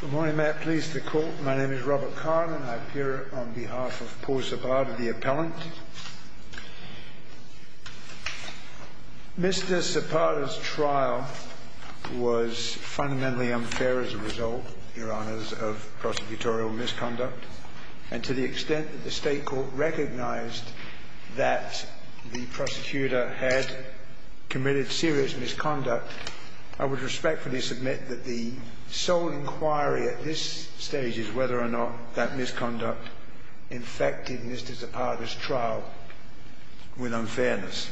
Good morning, may I please the court. My name is Robert Carlin. I appear on behalf of Paul Zapata, the appellant. Mr. Zapata's trial was fundamentally unfair as a result, Your Honours, of prosecutorial misconduct. And to the extent that the State Court recognized that the prosecutor had committed serious misconduct, I would respectfully submit that the sole inquiry at this stage is whether or not that misconduct infected Mr. Zapata's trial with unfairness.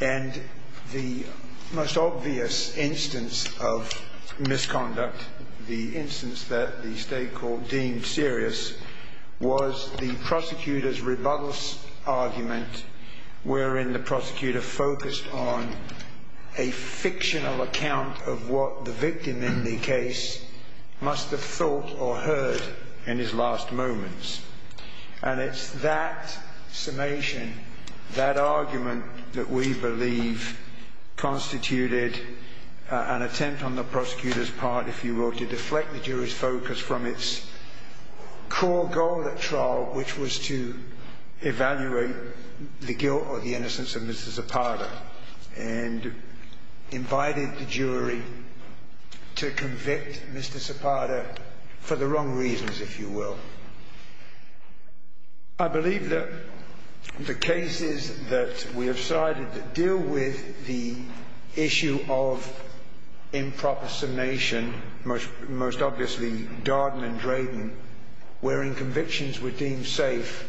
And the most obvious instance of misconduct, the instance that the State Court deemed serious, was the prosecutor's rebuttal argument wherein the prosecutor focused on a fictional account of what the victim in the case must have thought or heard in his last moments. And it's that summation, that argument, that we believe constituted an attempt on the prosecutor's part, if you will, to deflect the jury's focus from its core goal at trial, which was to evaluate the guilt or the innocence of Mr. Zapata, and invited the jury to convict Mr. Zapata for the wrong reasons, if you will. I believe that the cases that we have cited that deal with the issue of improper summation, most obviously Darden and Drayton, wherein convictions were deemed safe,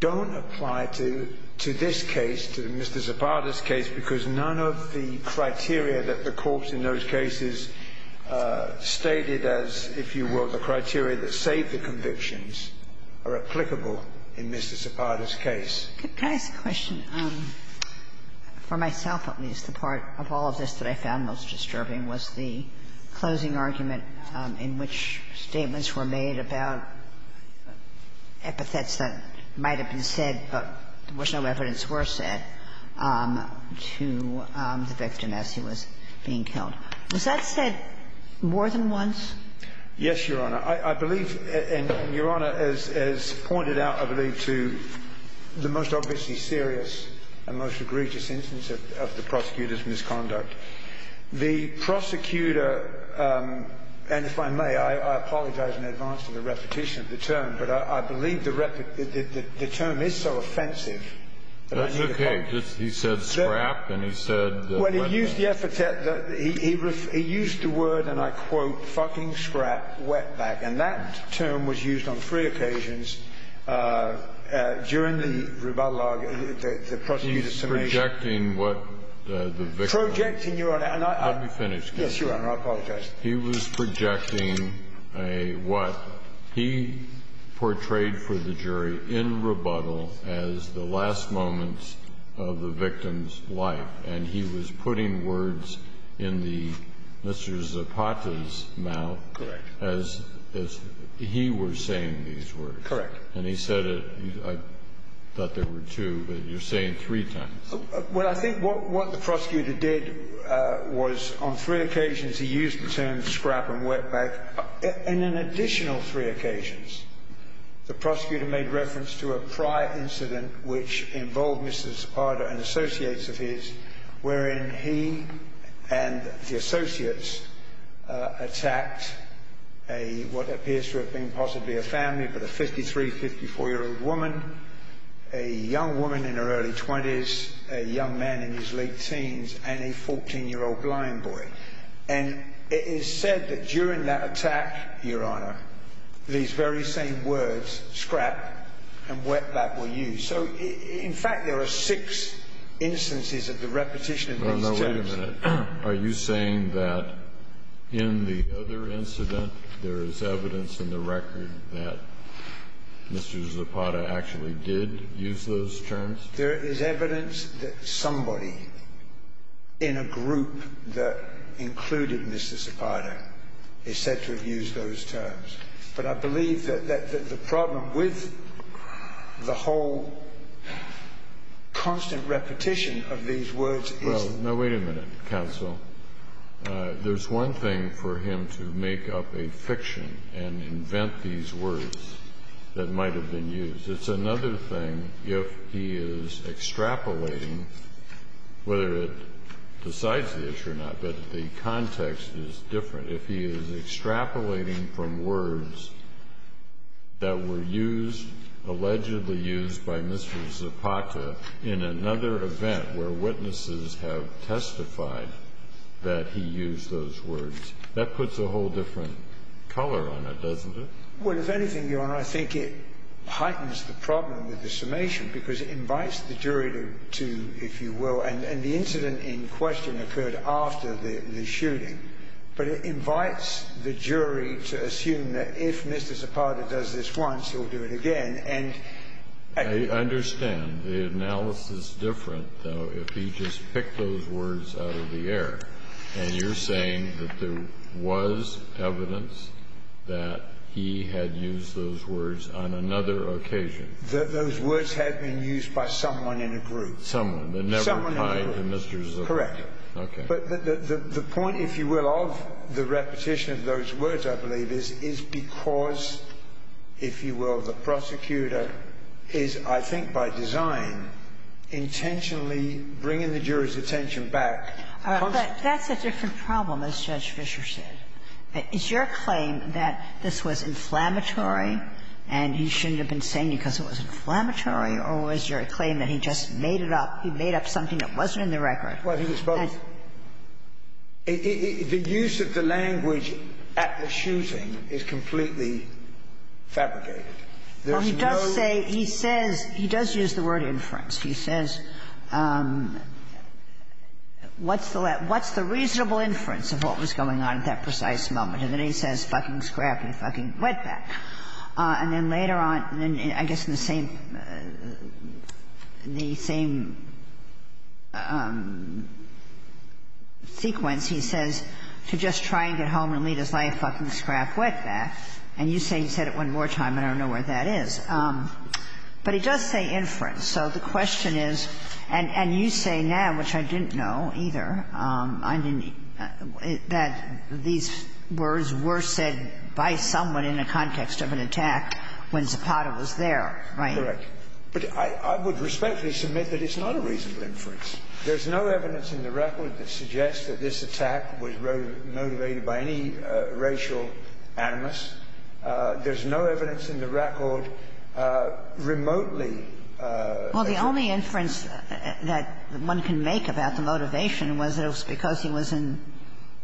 don't apply to this case, to Mr. Zapata's case, because none of the criteria that the corpse in those cases stated as, if you will, the criteria that saved the convictions, are applicable in Mr. Zapata's case. Can I ask a question? For myself, at least, the part of all of this that I found most disturbing was the closing argument in which statements were made about epithets that might have been said, but there was no evidence were said, to the victim as he was being killed. Was that said more than once? Yes, Your Honor. I believe, and Your Honor has pointed out, I believe, to the most obviously serious and most egregious instance of the prosecutor's misconduct. The prosecutor, and if I may, I apologize in advance for the repetition of the term, but I believe the term is so offensive that I need to pause. That's okay. He said scrap, and he said wetback. Well, he used the epithet, he used the word, and I quote, fucking scrap, wetback, and that term was used on three occasions during the rebuttal argument, the prosecutor's summation. He's projecting what the victim. Projecting, Your Honor, and I'm. Let me finish. Yes, Your Honor, I apologize. He was projecting a what he portrayed for the jury in rebuttal as the last moments of the victim's life, and he was putting words in the Mr. Zapata's mouth. Correct. As he was saying these words. Correct. And he said it, I thought there were two, but you're saying three times. Well, I think what the prosecutor did was on three occasions he used the term scrap and wetback. In an additional three occasions, the prosecutor made reference to a prior incident which involved Mr. Zapata and associates of his wherein he and the associates attacked a, what appears to have been possibly a family, but a 53-, 54-year-old woman, a young woman in her early 20s, a young man in his late teens, and a 14-year-old blind boy. And it is said that during that attack, Your Honor, these very same words, scrap and wetback, were used. So, in fact, there are six instances of the repetition of these terms. Wait a minute. Are you saying that in the other incident there is evidence in the record that Mr. Zapata actually did use those terms? There is evidence that somebody in a group that included Mr. Zapata is said to have used those terms. But I believe that the problem with the whole constant repetition of these words is that... Well, now, wait a minute, counsel. There's one thing for him to make up a fiction and invent these words that might have been used. It's another thing if he is extrapolating, whether it decides the issue or not, but the context is different. If he is extrapolating from words that were used, allegedly used by Mr. Zapata, in another event where witnesses have testified that he used those words, that puts a whole different color on it, doesn't it? Well, if anything, Your Honor, I think it heightens the problem with the summation because it invites the jury to, if you will, and the incident in question occurred after the shooting, but it invites the jury to assume that if Mr. Zapata does this once, he'll do it again, and... I understand the analysis is different, though, if he just picked those words out of the air, and you're saying that there was evidence that he had used those words on another occasion. Those words had been used by someone in a group. Someone. Someone in a group. Correct. Okay. But the point, if you will, of the repetition of those words, I believe, is, is because, if you will, the prosecutor is, I think by design, intentionally bringing the jury's attention back. But that's a different problem, as Judge Fischer said. Is your claim that this was inflammatory and he shouldn't have been saying it because it was inflammatory, or was your claim that he just made it up? He made up something that wasn't in the record. Well, I think it's both. The use of the language at the shooting is completely fabricated. There's no... Well, he does say, he says, he does use the word inference. He says, what's the reasonable inference of what was going on at that precise moment? And then he says, fucking scrap and fucking wetback. And then later on, I guess in the same sequence, he says, to just try and get home and lead his life, fucking scrap wetback. And you say he said it one more time, and I don't know where that is. But he does say inference. So the question is, and you say now, which I didn't know either, I didn't, that these words were said by someone in the context of an attack when Zapata was there, right? Correct. But I would respectfully submit that it's not a reasonable inference. There's no evidence in the record that suggests that this attack was motivated by any racial animus. There's no evidence in the record remotely that it was. Well, the only inference that one can make about the motivation was that it was because he was in,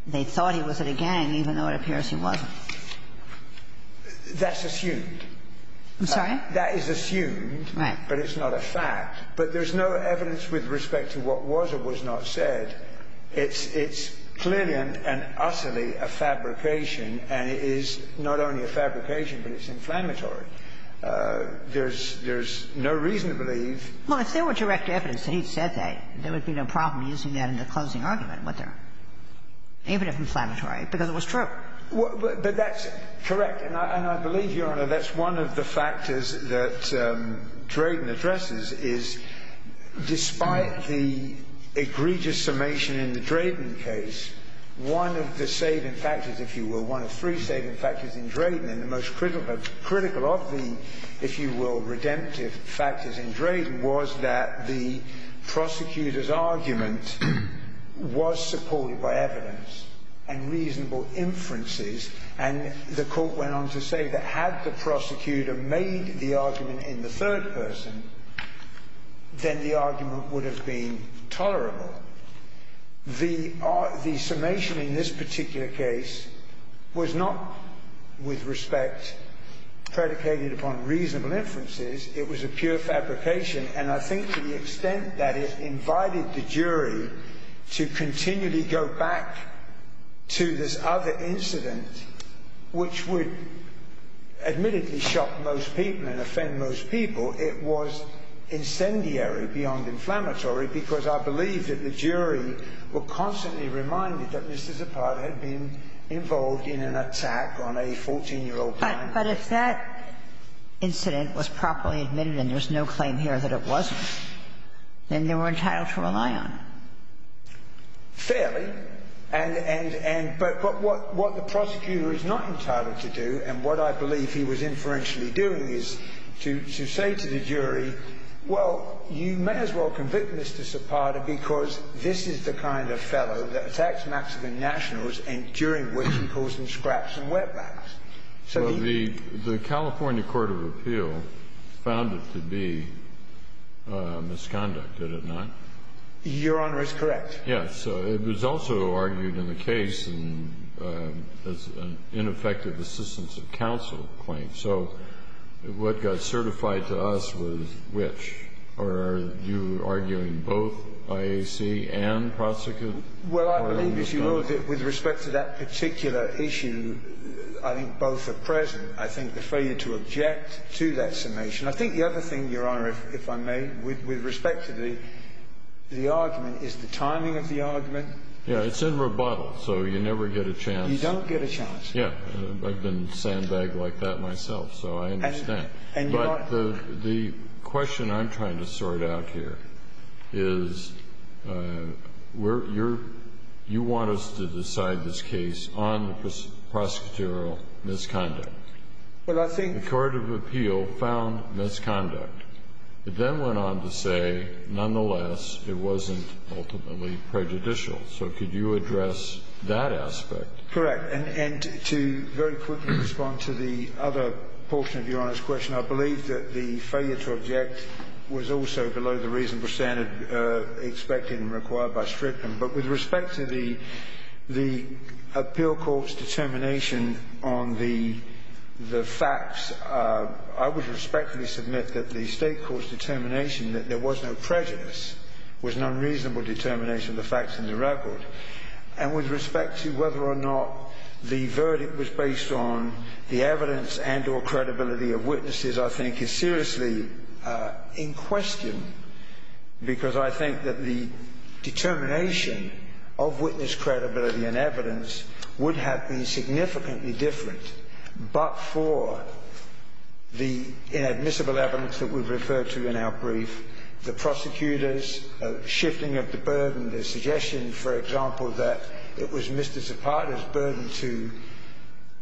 they thought he was in a gang, even though it appears he wasn't. That's assumed. I'm sorry? That is assumed. Right. But it's not a fact. But there's no evidence with respect to what was or was not said. It's clearly and utterly a fabrication, and it is not only a fabrication, but it's inflammatory. There's no reason to believe. Well, if there were direct evidence that he said that, there would be no problem using that in the closing argument, would there? It would have been inflammatory because it was true. But that's correct. And I believe, Your Honor, that's one of the factors that Drayden addresses, is despite the egregious summation in the Drayden case, one of the saving factors, if you will, one of three saving factors in Drayden, and the most critical of the, if you will, redemptive factors in Drayden, was that the prosecutor's argument was supported by evidence and reasonable inferences, and the court went on to say that had the prosecutor made the argument in the third person, then the argument would have been tolerable. The summation in this particular case was not, with respect, predicated upon reasonable inferences. It was a pure fabrication. And I think to the extent that it invited the jury to continually go back to this other incident, which would admittedly shock most people and offend most people, it was incendiary beyond inflammatory because I believe that the jury were constantly reminded that Mr. Zapata had been involved in an attack on a 14-year-old client. But if that incident was properly admitted and there's no claim here that it wasn't, then they were entitled to rely on it. Fairly. And what the prosecutor is not entitled to do, and what I believe he was inferentially doing, is to say to the jury, well, you may as well convict Mr. Zapata because this is the kind of fellow that attacks Mexican nationals during which he pulls them scraps and wetbacks. So the ---- Well, the California Court of Appeal found it to be misconduct, did it not? Your Honor is correct. Yes. So it was also argued in the case as an ineffective assistance of counsel claim. So what got certified to us was which? Are you arguing both IAC and prosecutor? Well, I believe, if you will, that with respect to that particular issue, I think both are present. I think the failure to object to that summation. I think the other thing, Your Honor, if I may, with respect to the argument is the timing of the argument. Yes, it's in rebuttal, so you never get a chance. You don't get a chance. Yes. I've been sandbagged like that myself, so I understand. But the question I'm trying to sort out here is you want us to decide this case on prosecutorial misconduct. Well, I think ---- The Court of Appeal found misconduct. It then went on to say, nonetheless, it wasn't ultimately prejudicial. So could you address that aspect? Correct. And to very quickly respond to the other portion of Your Honor's question, I believe that the failure to object was also below the reasonable standard expected and required by strip them. But with respect to the appeal court's determination on the facts, I would respectfully submit that the state court's determination that there was no prejudice was an unreasonable determination of the facts in the record. And with respect to whether or not the verdict was based on the evidence and or credibility of witnesses, I think is seriously in question, because I think that the determination of witness credibility and evidence would have been significantly different, but for the inadmissible evidence that we've referred to in our brief, the prosecutor's shifting of the burden, the suggestion, for example, that it was Mr. Zapata's burden to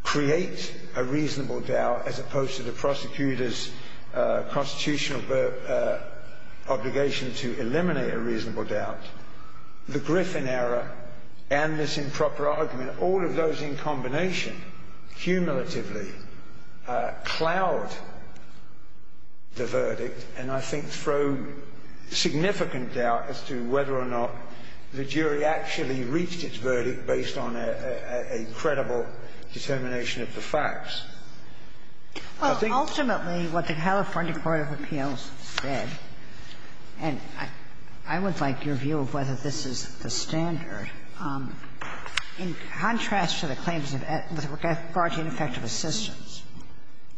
create a reasonable doubt as opposed to the prosecutor's constitutional obligation to eliminate a reasonable doubt. The Griffin error and this improper argument, all of those in combination, cumulatively cloud the verdict and, I think, throw significant doubt as to whether or not the jury actually reached its verdict based on a credible determination of the facts. I think... Well, ultimately, what the California Court of Appeals said, and I would like your assistance,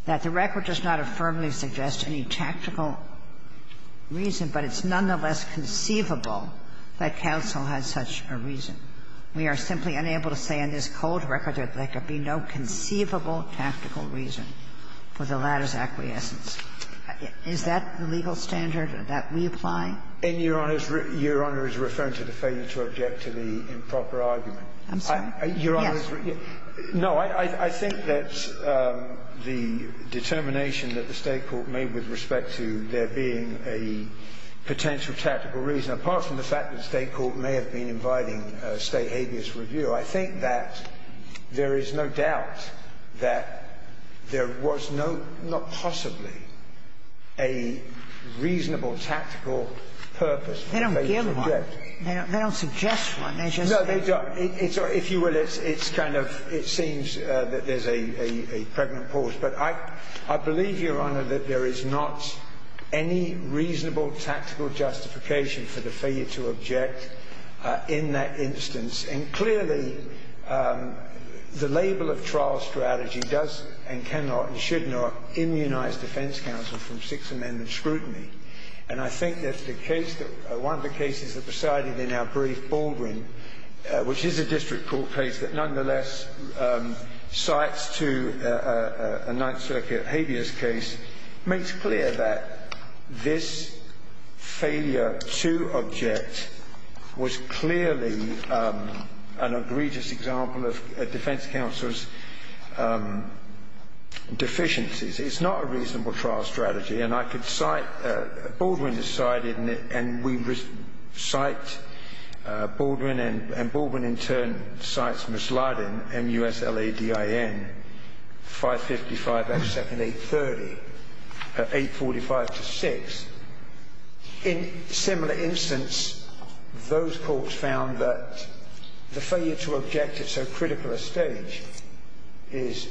that the record does not affirmly suggest any tactical reason, but it's nonetheless conceivable that counsel has such a reason. We are simply unable to say on this cold record that there could be no conceivable tactical reason for the latter's acquiescence. Is that the legal standard that we apply? And, Your Honor, Your Honor is referring to the failure to object to the improper argument. I'm sorry? Yes. No. I think that the determination that the State court made with respect to there being a potential tactical reason, apart from the fact that the State court may have been inviting State habeas review, I think that there is no doubt that there was no, not possibly, a reasonable tactical purpose for the State to object. They don't give one. They don't suggest one. No, they don't. If you will, it's kind of, it seems that there's a pregnant pause. But I believe, Your Honor, that there is not any reasonable tactical justification for the failure to object in that instance. And clearly, the label of trial strategy does and cannot and should not immunize defense counsel from Sixth Amendment scrutiny. And I think that the case that, one of the cases that presided in our brief, Baldwin, which is a district court case that nonetheless cites to a Ninth Circuit habeas case, makes clear that this failure to object was clearly an egregious example of defense counsel's deficiencies. It's not a reasonable trial strategy. And I could cite, Baldwin has cited, and we cite Baldwin, and Baldwin in turn cites Ms. Lardin, M-U-S-L-A-D-I-N, 555 F-2nd 830, 845-6. In similar instance, those courts found that the failure to object at so critical a stage is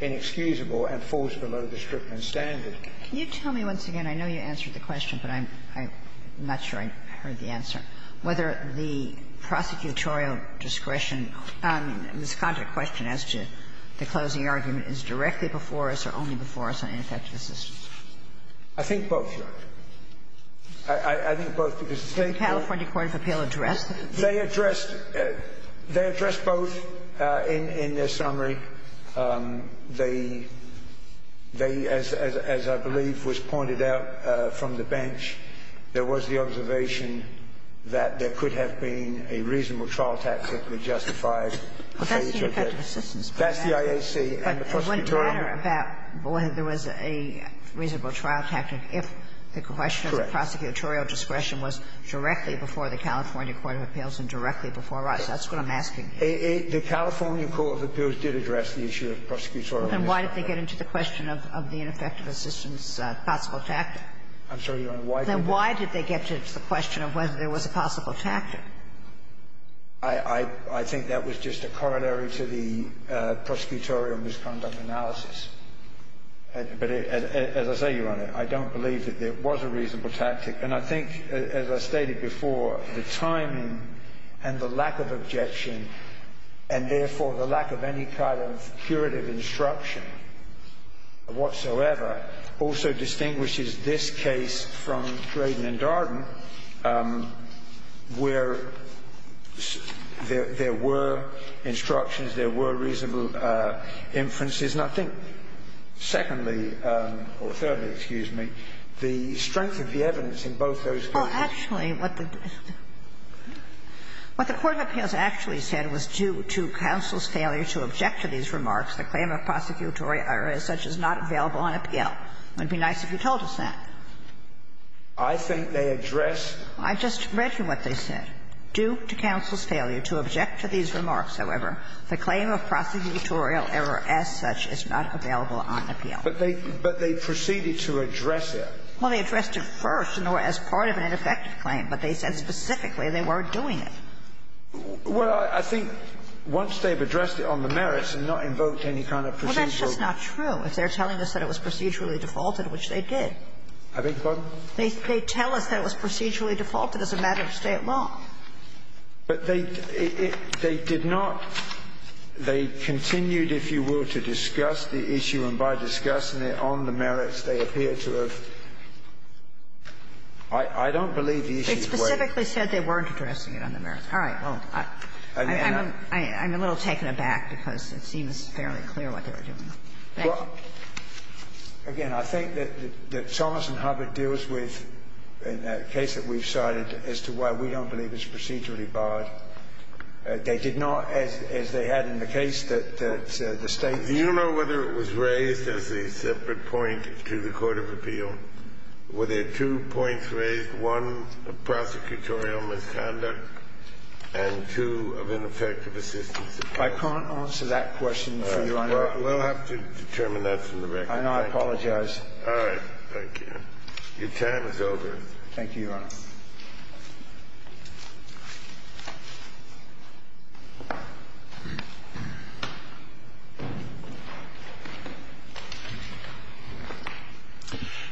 inexcusable and falls below the Strickland standard. Can you tell me once again? I know you answered the question, but I'm not sure I heard the answer. Whether the prosecutorial discretion on this contact question as to the closing argument is directly before us or only before us on ineffective assistance? I think both, Your Honor. I think both, because the State court The California court of appeal addressed They addressed both in their summary. They, as I believe was pointed out from the bench, there was the observation that there could have been a reasonable trial tactic that justified failure to object. Well, that's the ineffective assistance. That's the IAC and the prosecutorial discretion. But it wouldn't matter about whether there was a reasonable trial tactic if the question was directly before the California court of appeals and directly before us. That's what I'm asking. The California court of appeals did address the issue of prosecutorial discretion. Then why did they get into the question of the ineffective assistance possible tactic? I'm sorry, Your Honor. Then why did they get into the question of whether there was a possible tactic? I think that was just a corollary to the prosecutorial misconduct analysis. But as I say, Your Honor, I don't believe that there was a reasonable tactic. And I think, as I stated before, the timing and the lack of objection, and therefore the lack of any kind of curative instruction whatsoever, also distinguishes this case from Drayden and Darden, where there were instructions, there were reasonable inferences. And I think, secondly, or thirdly, excuse me, the strength of the evidence in both those cases. Well, actually, what the court of appeals actually said was due to counsel's failure to object to these remarks, the claim of prosecutorial error as such is not available on appeal. It would be nice if you told us that. I think they addressed. I just read you what they said. Due to counsel's failure to object to these remarks, however, the claim of prosecutorial error as such is not available on appeal. But they proceeded to address it. Well, they addressed it first as part of an ineffective claim. But they said specifically they weren't doing it. Well, I think once they've addressed it on the merits and not invoked any kind of procedural Well, that's just not true. If they're telling us that it was procedurally defaulted, which they did. I beg your pardon? They tell us that it was procedurally defaulted as a matter of State law. But they did not they continued, if you will, to discuss the issue, and by discussing it on the merits, they appear to have. I don't believe the issue is waived. It specifically said they weren't addressing it on the merits. All right. Well, I'm a little taken aback because it seems fairly clear what they were doing. Thank you. Again, I think that Thomas and Hubbard deals with, in the case that we've cited, as to why we don't believe it's procedurally barred. They did not, as they had in the case that the State. Do you know whether it was raised as a separate point to the Court of Appeal? Were there two points raised, one of prosecutorial misconduct and two of ineffective assistance? I can't answer that question for you, Your Honor. We'll have to determine that from the record. I know. I apologize. All right. Thank you. Your time is over. Thank you, Your Honor.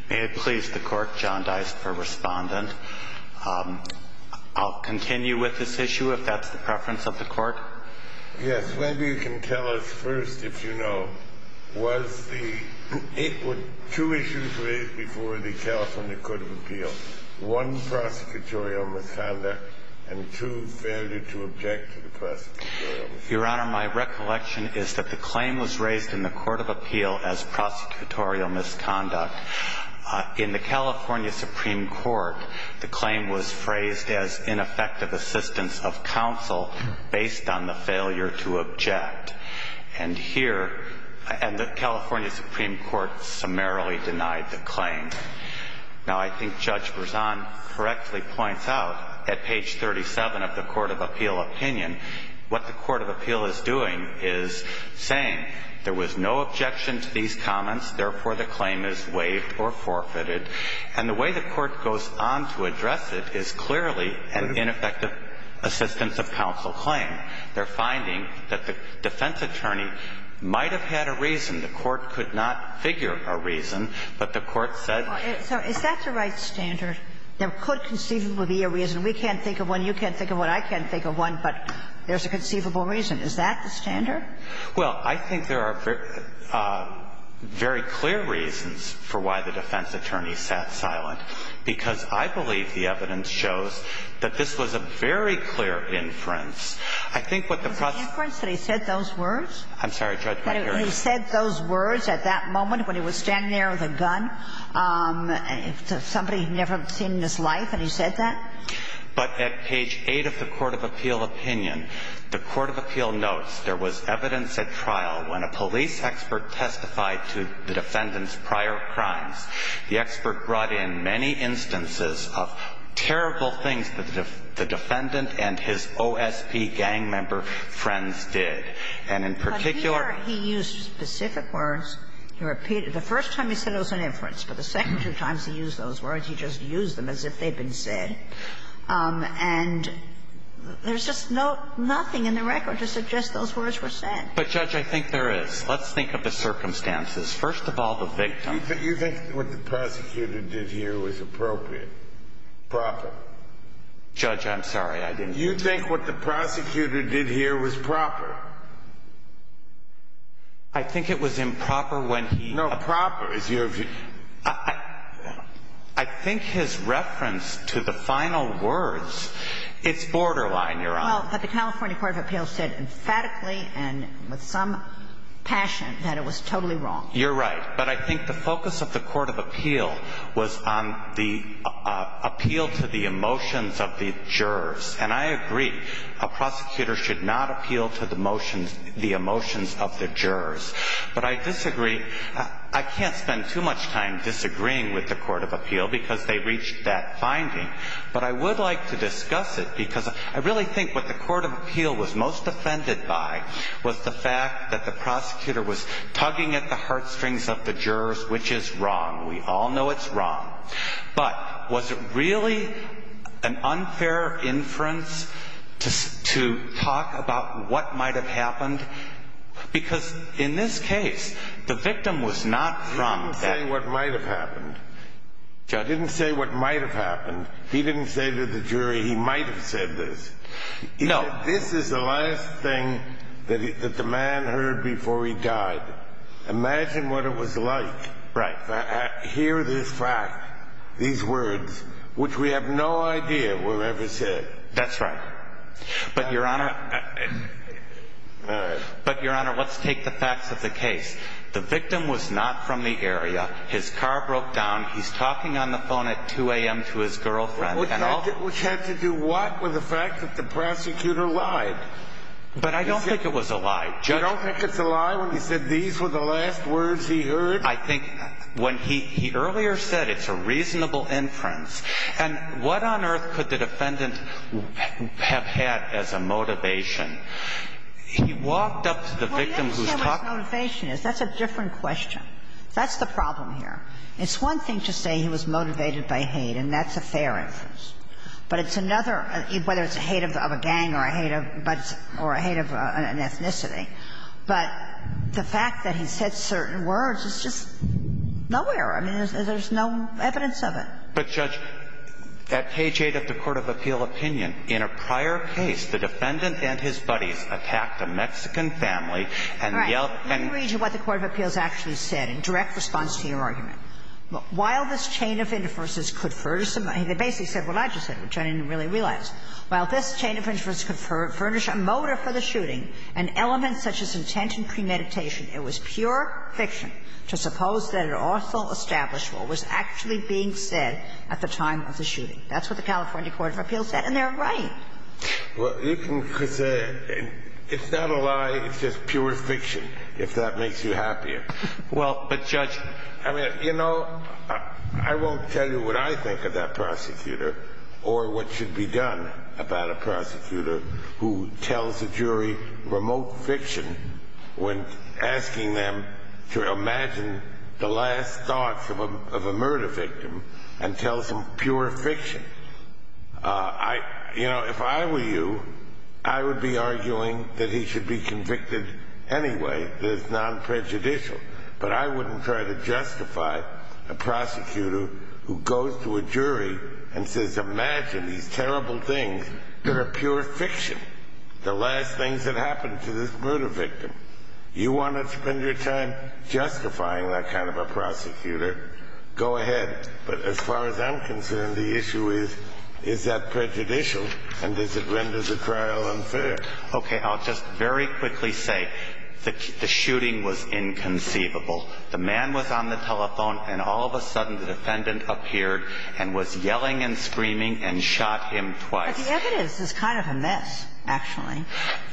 May it please the Court, John Dice for Respondent. I'll continue with this issue, if that's the preference of the Court. Yes. Maybe you can tell us first, if you know, was the two issues raised before the case, one prosecutorial misconduct and two failure to object to the prosecutorial misconduct? Your Honor, my recollection is that the claim was raised in the Court of Appeal as prosecutorial misconduct. In the California Supreme Court, the claim was phrased as ineffective assistance of counsel based on the failure to object. Now, I think Judge Berzon correctly points out at page 37 of the Court of Appeal opinion, what the Court of Appeal is doing is saying there was no objection to these comments, therefore, the claim is waived or forfeited. And the way the Court goes on to address it is clearly an ineffective assistance of counsel claim. They're finding that the defense attorney might have had a reason. The Court could not figure a reason, but the Court said the defense attorney might have had a reason. So is that the right standard? There could conceivably be a reason. We can't think of one, you can't think of one, I can't think of one, but there's a conceivable reason. Is that the standard? Well, I think there are very clear reasons for why the defense attorney sat silent, because I believe the evidence shows that this was a very clear inference. I think what the process was. Was it an inference that he said those words? I'm sorry, Judge. He said those words at that moment when he was standing there with a gun to somebody he'd never seen in his life, and he said that? But at page 8 of the Court of Appeal opinion, the Court of Appeal notes there was evidence at trial when a police expert testified to the defendant's prior crimes. The expert brought in many instances of terrible things that the defendant and his OSP gang member friends did. And in particular he used specific words. The first time he said it was an inference, but the second two times he used those words, he just used them as if they'd been said. And there's just nothing in the record to suggest those words were said. But, Judge, I think there is. Let's think of the circumstances. First of all, the victim. You think what the prosecutor did here was appropriate? Proper? Judge, I'm sorry. I didn't mean to. You think what the prosecutor did here was proper? I think it was improper when he... No, proper is your view. I think his reference to the final words, it's borderline, Your Honor. Well, but the California Court of Appeal said emphatically and with some passion that it was totally wrong. You're right. But I think the focus of the Court of Appeal was on the appeal to the emotions of the jurors. And I agree. A prosecutor should not appeal to the emotions of the jurors. But I disagree. I can't spend too much time disagreeing with the Court of Appeal because they reached that finding. But I would like to discuss it because I really think what the Court of Appeal was most offended by was the fact that the prosecutor was tugging at the heartstrings of the jurors, which is wrong. We all know it's wrong. But was it really an unfair inference to talk about what might have happened? Because in this case, the victim was not from that... He didn't say what might have happened. Judge... He didn't say what might have happened. He didn't say to the jury he might have said this. No. This is the last thing that the man heard before he died. Imagine what it was like to hear this fact, these words, which we have no idea were ever said. That's right. But, Your Honor, let's take the facts of the case. The victim was not from the area. His car broke down. He's talking on the phone at 2 a.m. to his girlfriend. We had to do what with the fact that the prosecutor lied? But I don't think it was a lie. You don't think it's a lie when he said these were the last words he heard? I think when he earlier said it's a reasonable inference. And what on earth could the defendant have had as a motivation? He walked up to the victim who's talking... Well, you have to say what his motivation is. That's a different question. That's the problem here. It's one thing to say he was motivated by hate, and that's a fair inference. But it's another, whether it's a hate of a gang or a hate of an ethnicity. But the fact that he said certain words is just nowhere. I mean, there's no evidence of it. But, Judge, at page 8 of the court of appeal opinion, in a prior case, the defendant and his buddies attacked a Mexican family and yelled and... While this chain of inferences could furnish some... They basically said what I just said, which I didn't really realize. While this chain of inferences could furnish a motive for the shooting, an element such as intent and premeditation, it was pure fiction to suppose that an awful establishment was actually being said at the time of the shooting. That's what the California court of appeals said. And they're right. Well, you can say it's not a lie. It's just pure fiction, if that makes you happier. Well, but, Judge... I mean, you know, I won't tell you what I think of that prosecutor or what should be done about a prosecutor who tells a jury remote fiction when asking them to imagine the last thoughts of a murder victim and tells them pure fiction. You know, if I were you, I would be arguing that he should be convicted anyway that is non-prejudicial. But I wouldn't try to justify a prosecutor who goes to a jury and says, imagine these terrible things that are pure fiction, the last things that happened to this murder victim. You want to spend your time justifying that kind of a prosecutor, go ahead. But as far as I'm concerned, the issue is, is that prejudicial and does it render the trial unfair? Okay. I'll just very quickly say the shooting was inconceivable. The man was on the telephone, and all of a sudden the defendant appeared and was yelling and screaming and shot him twice. But the evidence is kind of a mess, actually.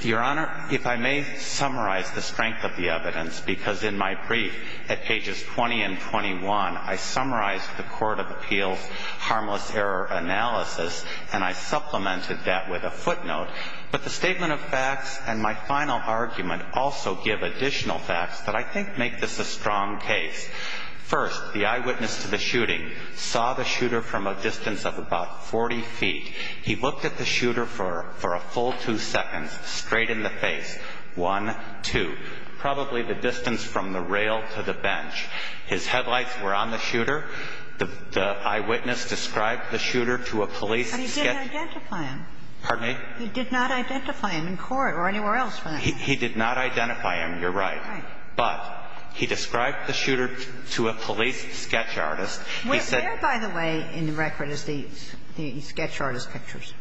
Your Honor, if I may summarize the strength of the evidence, because in my brief at pages 20 and 21, I summarized the court of appeals' harmless error analysis, and I supplemented that with a footnote. But the statement of facts and my final argument also give additional facts that I think make this a strong case. First, the eyewitness to the shooting saw the shooter from a distance of about 40 feet. He looked at the shooter for a full two seconds, straight in the face, one, two, probably the distance from the rail to the bench. His headlights were on the shooter. The eyewitness described the shooter to a police detective. But he didn't identify him. Pardon me? He did not identify him in court or anywhere else. He did not identify him. You're right. Right. But he described the shooter to a police sketch artist. Where, by the way, in the record is the sketch artist pictures?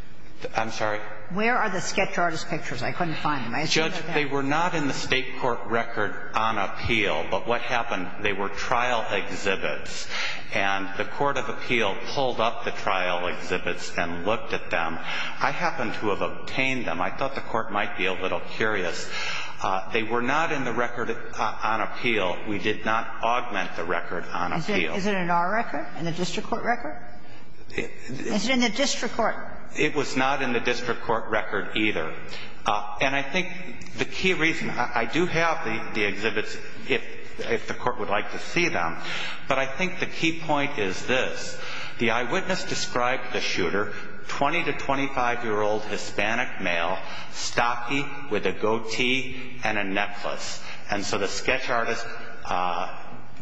I'm sorry? Where are the sketch artist pictures? I couldn't find them. Judge, they were not in the State court record on appeal. But what happened, they were trial exhibits. And the court of appeal pulled up the trial exhibits and looked at them. I happen to have obtained them. I thought the Court might be a little curious. They were not in the record on appeal. We did not augment the record on appeal. Is it in our record, in the district court record? Is it in the district court? It was not in the district court record either. And I think the key reason, I do have the exhibits if the Court would like to see them, but I think the key point is this. The eyewitness described the shooter, 20 to 25-year-old Hispanic male, stocky with a goatee and a necklace. And so the sketch artist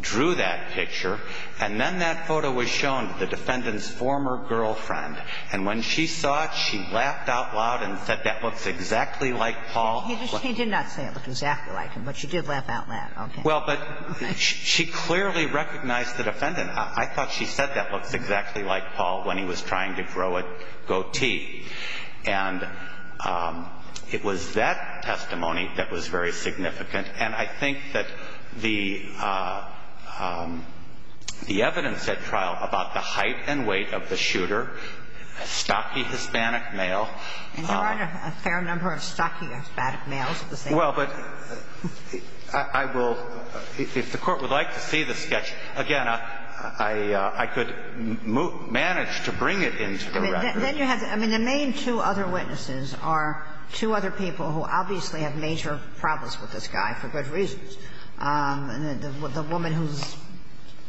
drew that picture. And then that photo was shown to the defendant's former girlfriend. And when she saw it, she laughed out loud and said that looks exactly like Paul. He did not say it looked exactly like him, but she did laugh out loud. Okay. Well, but she clearly recognized the defendant. I thought she said that looks exactly like Paul when he was trying to grow a goatee. And it was that testimony that was very significant. And I think that the evidence at trial about the height and weight of the shooter, a stocky Hispanic male. And Your Honor, a fair number of stocky Hispanic males at the same time. Well, but I will, if the Court would like to see the sketch, again, I could manage to bring it into the record. Then you have to. I mean, the main two other witnesses are two other people who obviously have major problems with this guy for good reasons. The woman who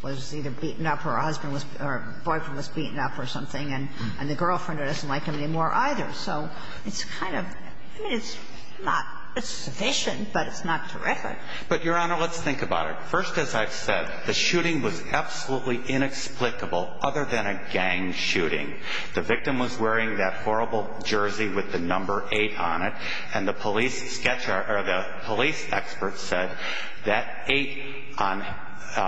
was either beaten up or her husband was or her boyfriend was beaten up or something, and the girlfriend doesn't like him anymore either. So it's kind of, I mean, it's not, it's sufficient, but it's not terrific. But Your Honor, let's think about it. First, as I've said, the shooting was absolutely inexplicable other than a gang shooting. The victim was wearing that horrible jersey with the number 8 on it, and the police sketch, or the police expert said that 8 on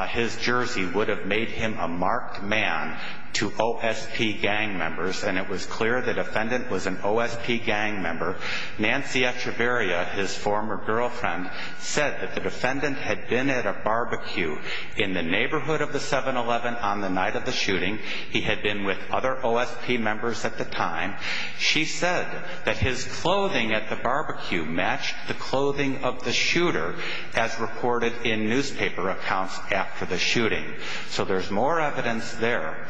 his jersey would have made him a marked man to OSP gang members. And it was clear the defendant was an OSP gang member. Nancy Echeverria, his former girlfriend, said that the defendant had been at a barbecue in the neighborhood of the 7-Eleven on the night of the shooting. He had been with other OSP members at the time. She said that his clothing at the barbecue matched the clothing of the shooter, as reported in newspaper accounts after the shooting. So there's more evidence there.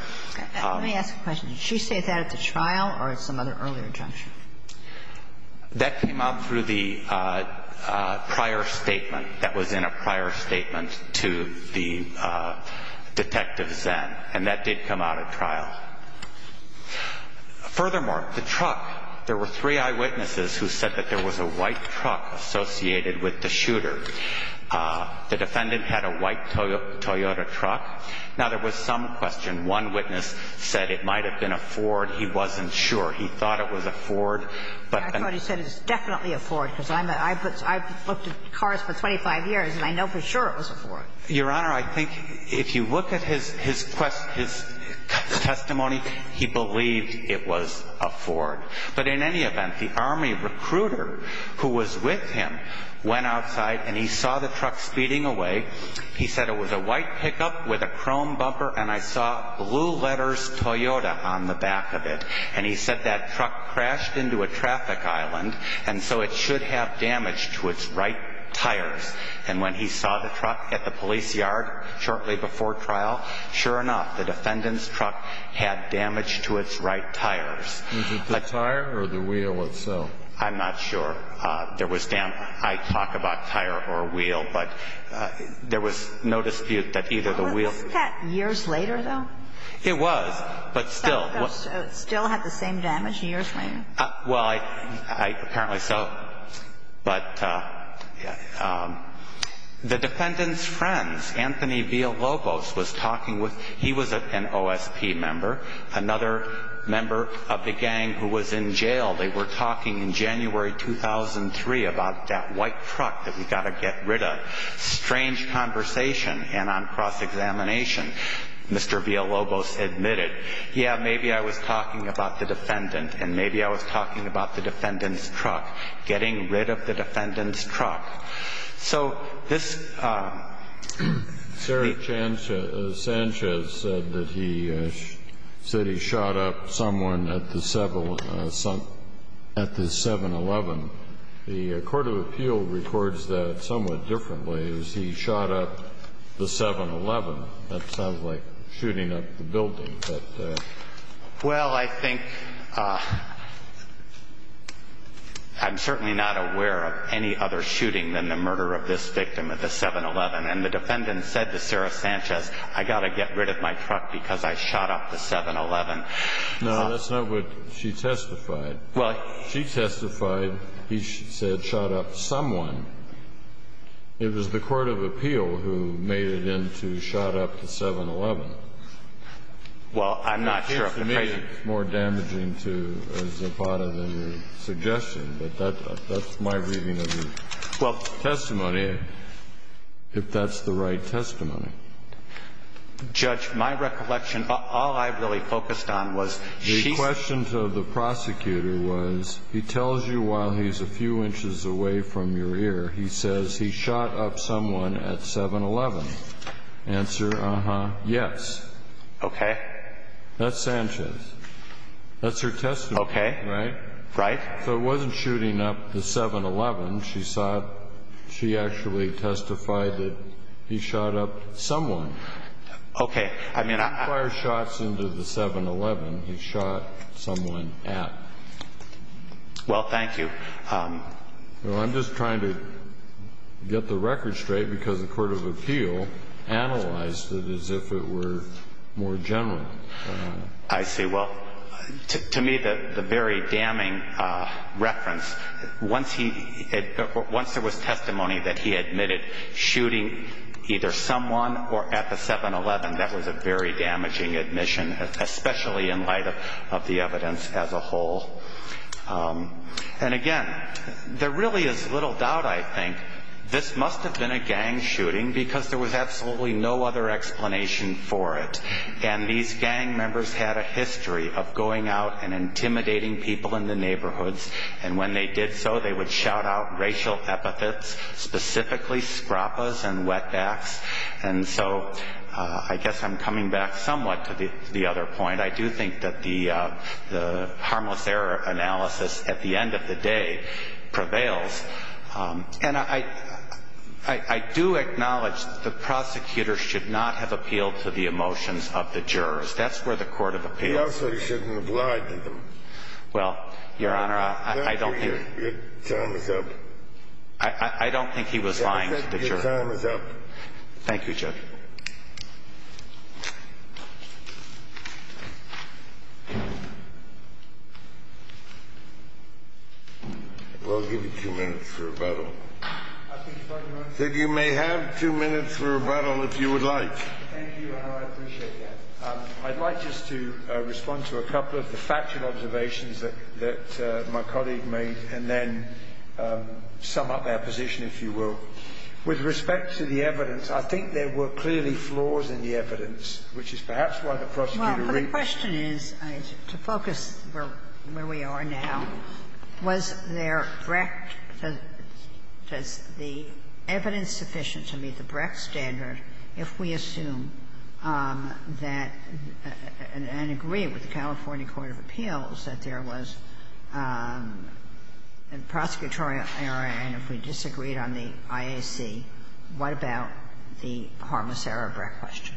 Let me ask a question. Did she say that at the trial or at some other earlier juncture? That came out through the prior statement that was in a prior statement to the Detective Zenn, and that did come out at trial. Furthermore, the truck, there were three eyewitnesses who said that there was a white truck associated with the shooter. The defendant had a white Toyota truck. Now, there was some question. One witness said it might have been a Ford. He wasn't sure. He thought it was a Ford. I thought he said it was definitely a Ford, because I've looked at cars for 25 years, and I know for sure it was a Ford. Your Honor, I think if you look at his testimony, he believed it was a Ford. But in any event, the Army recruiter who was with him went outside, and he saw the truck speeding away. He said it was a white pickup with a chrome bumper, and I saw blue letters Toyota on the back of it. And he said that truck crashed into a traffic island, and so it should have damage to its right tires. And when he saw the truck at the police yard shortly before trial, sure enough, the defendant's truck had damage to its right tires. Was it the tire or the wheel itself? I'm not sure. There was damage. I talk about tire or wheel, but there was no dispute that either the wheel... Wasn't that years later, though? It was, but still... Still had the same damage, years later? Well, apparently so. But the defendant's friends, Anthony Villalobos, was talking with... The gang who was in jail, they were talking in January 2003 about that white truck that we've got to get rid of. Strange conversation, and on cross-examination, Mr. Villalobos admitted, yeah, maybe I was talking about the defendant, and maybe I was talking about the defendant's truck. Getting rid of the defendant's truck. So this... Sheriff Sanchez said that he shot up someone at the 7-Eleven. The court of appeal records that somewhat differently. He shot up the 7-Eleven. That sounds like shooting up the building. Well, I think... I'm certainly not aware of any other shooting than the murder of this victim at the 7-Eleven. And the defendant said to Sheriff Sanchez, I've got to get rid of my truck because I shot up the 7-Eleven. No, that's not what she testified. She testified he said shot up someone. It was the court of appeal who made it in to shot up the 7-Eleven. Well, I'm not sure... It seems to me it's more damaging to Zapata than your suggestion, but that's my reading of the testimony. If that's the right testimony. Judge, my recollection, all I really focused on was... The question to the prosecutor was, he tells you while he's a few inches away from your ear, he says he shot up someone at 7-Eleven. Answer, uh-huh, yes. Okay. That's Sanchez. That's her testimony. Okay. Right? Right. So it wasn't shooting up the 7-Eleven, she saw, she actually testified that he shot up someone. Okay, I mean... He didn't fire shots into the 7-Eleven, he shot someone at. Well, thank you. Well, I'm just trying to get the record straight because the court of appeal analyzed it as if it were more general. I see. Well, to me the very damning reference, once there was testimony that he admitted shooting either someone or at the 7-Eleven, that was a very damaging admission. Especially in light of the evidence as a whole. And again, there really is little doubt, I think, this must have been a gang shooting because there was absolutely no other explanation for it. And these gang members had a history of going out and intimidating people in the neighborhoods. And when they did so, they would shout out racial epithets, specifically scrapas and wetbacks. And so I guess I'm coming back somewhat to the other point. I do think that the harmless error analysis at the end of the day prevails. And I do acknowledge that the prosecutor should not have appealed to the emotions of the jurors. That's where the court of appeal... He also shouldn't have lied to them. Well, Your Honor, I don't think... Your time is up. I don't think he was lying to the jurors. Your time is up. Thank you, Judge. Thank you. We'll give you two minutes for rebuttal. I think... You may have two minutes for rebuttal if you would like. Thank you, Your Honor. I appreciate that. I'd like just to respond to a couple of the factual observations that my colleague made and then sum up our position, if you will. With respect to the evidence, I think there were clearly flaws in the evidence, which is perhaps why the prosecutor... Well, the question is, to focus where we are now, was there direct or was the evidence sufficient to meet the direct standard if we assume that and agree with the California Court of Appeals that there was a prosecutorial error and if we disagreed on the IAC, what about the harmless error of Brett question?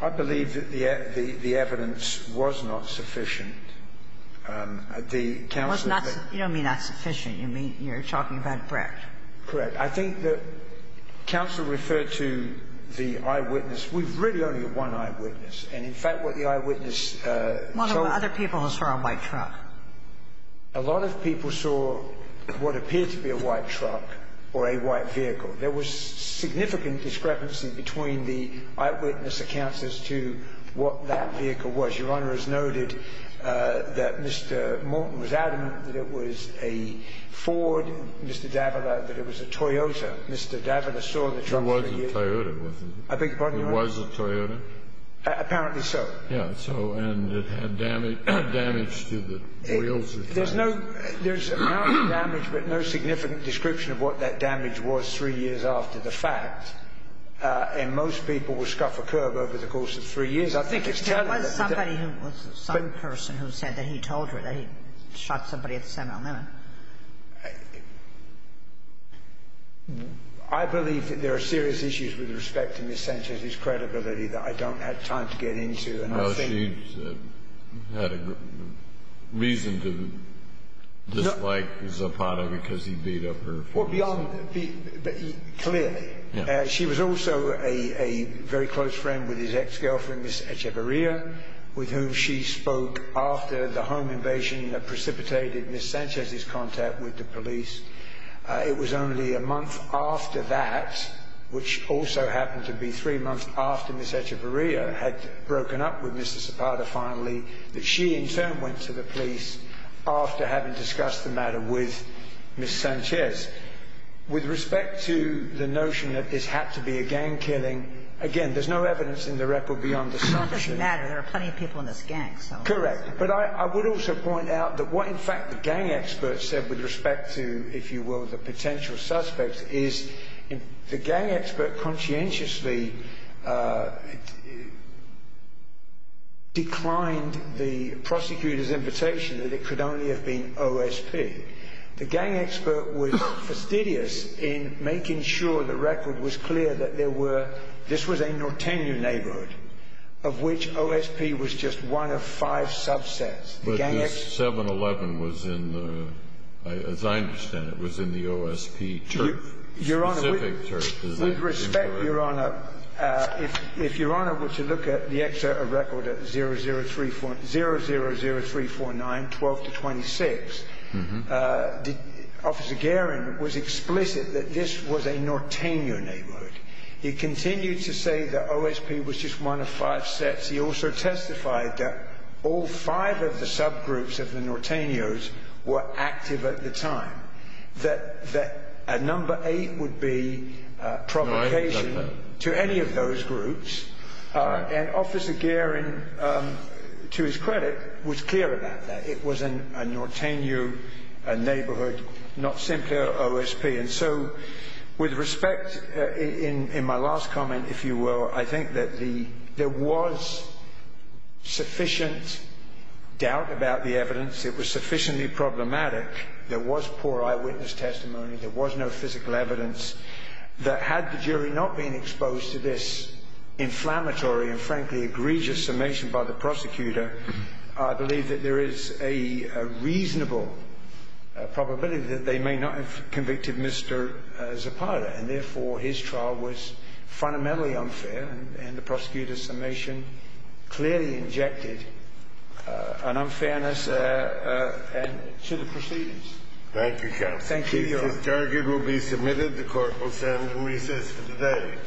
I believe that the evidence was not sufficient. The counsel... You don't mean not sufficient. You're talking about Brett. Correct. I think that counsel referred to the eyewitness. We've really only had one eyewitness. And, in fact, what the eyewitness told... One of the other people who saw a white truck. A lot of people saw what appeared to be a white truck or a white vehicle. There was significant discrepancy between the eyewitness accounts as to what that vehicle was. Your Honor has noted that Mr. Moulton was adamant that it was a Ford, Mr. Davila that it was a Toyota. Mr. Davila saw the truck... It was a Toyota. I beg your pardon, Your Honor? It was a Toyota. Apparently so. Yes. And it had damage to the wheels. There's no significant description of what that damage was three years after the fact. And most people will scuff a curb over the course of three years. I think it's telling... There was somebody, some person who said that he told her that he shot somebody at the seminal limit. I believe that there are serious issues with respect to Ms. Sanchez's credibility that I don't have time to get into. She had a reason to dislike Zapata because he beat up her. Clearly. She was also a very close friend with his ex-girlfriend, Ms. Echevarria, with whom she spoke after the home invasion precipitated Ms. Sanchez's contact with the police. It was only a month after that, which also happened to be three months after Ms. Echevarria had broken up with Mr. Zapata finally, that she in turn went to the police after having discussed the matter with Ms. Sanchez. With respect to the notion that this had to be a gang killing, again, there's no evidence in the record beyond the assumption... It doesn't matter. There are plenty of people in this gang. Correct. But I would also point out that what in fact the gang expert said with respect to, if you will, the potential suspects, is the gang expert conscientiously declined the prosecutor's invitation that it could only have been OSP. The gang expert was fastidious in making sure the record was clear that there were... of which OSP was just one of five subsets. But this 7-11 was in the, as I understand it, was in the OSP turf, specific turf. Your Honor, with respect, Your Honor, if Your Honor were to look at the record at 0-0-3-4-9, 12-26, Officer Guerin was explicit that this was a Nortenio neighborhood. He continued to say that OSP was just one of five sets. He also testified that all five of the subgroups of the Nortenios were active at the time, that a number eight would be provocation to any of those groups. And Officer Guerin, to his credit, was clear about that. It was a Nortenio neighborhood, not simply OSP. And so, with respect, in my last comment, if you will, I think that there was sufficient doubt about the evidence. It was sufficiently problematic. There was poor eyewitness testimony. There was no physical evidence. That had the jury not been exposed to this inflammatory and, frankly, egregious summation by the prosecutor, I believe that there is a reasonable probability that they may not have convicted Mr. Zapata. And, therefore, his trial was fundamentally unfair. And the prosecutor's summation clearly injected an unfairness to the proceedings. Thank you, counsel. Thank you, Your Honor. The case is targeted, will be submitted, the court will stand and recess for today.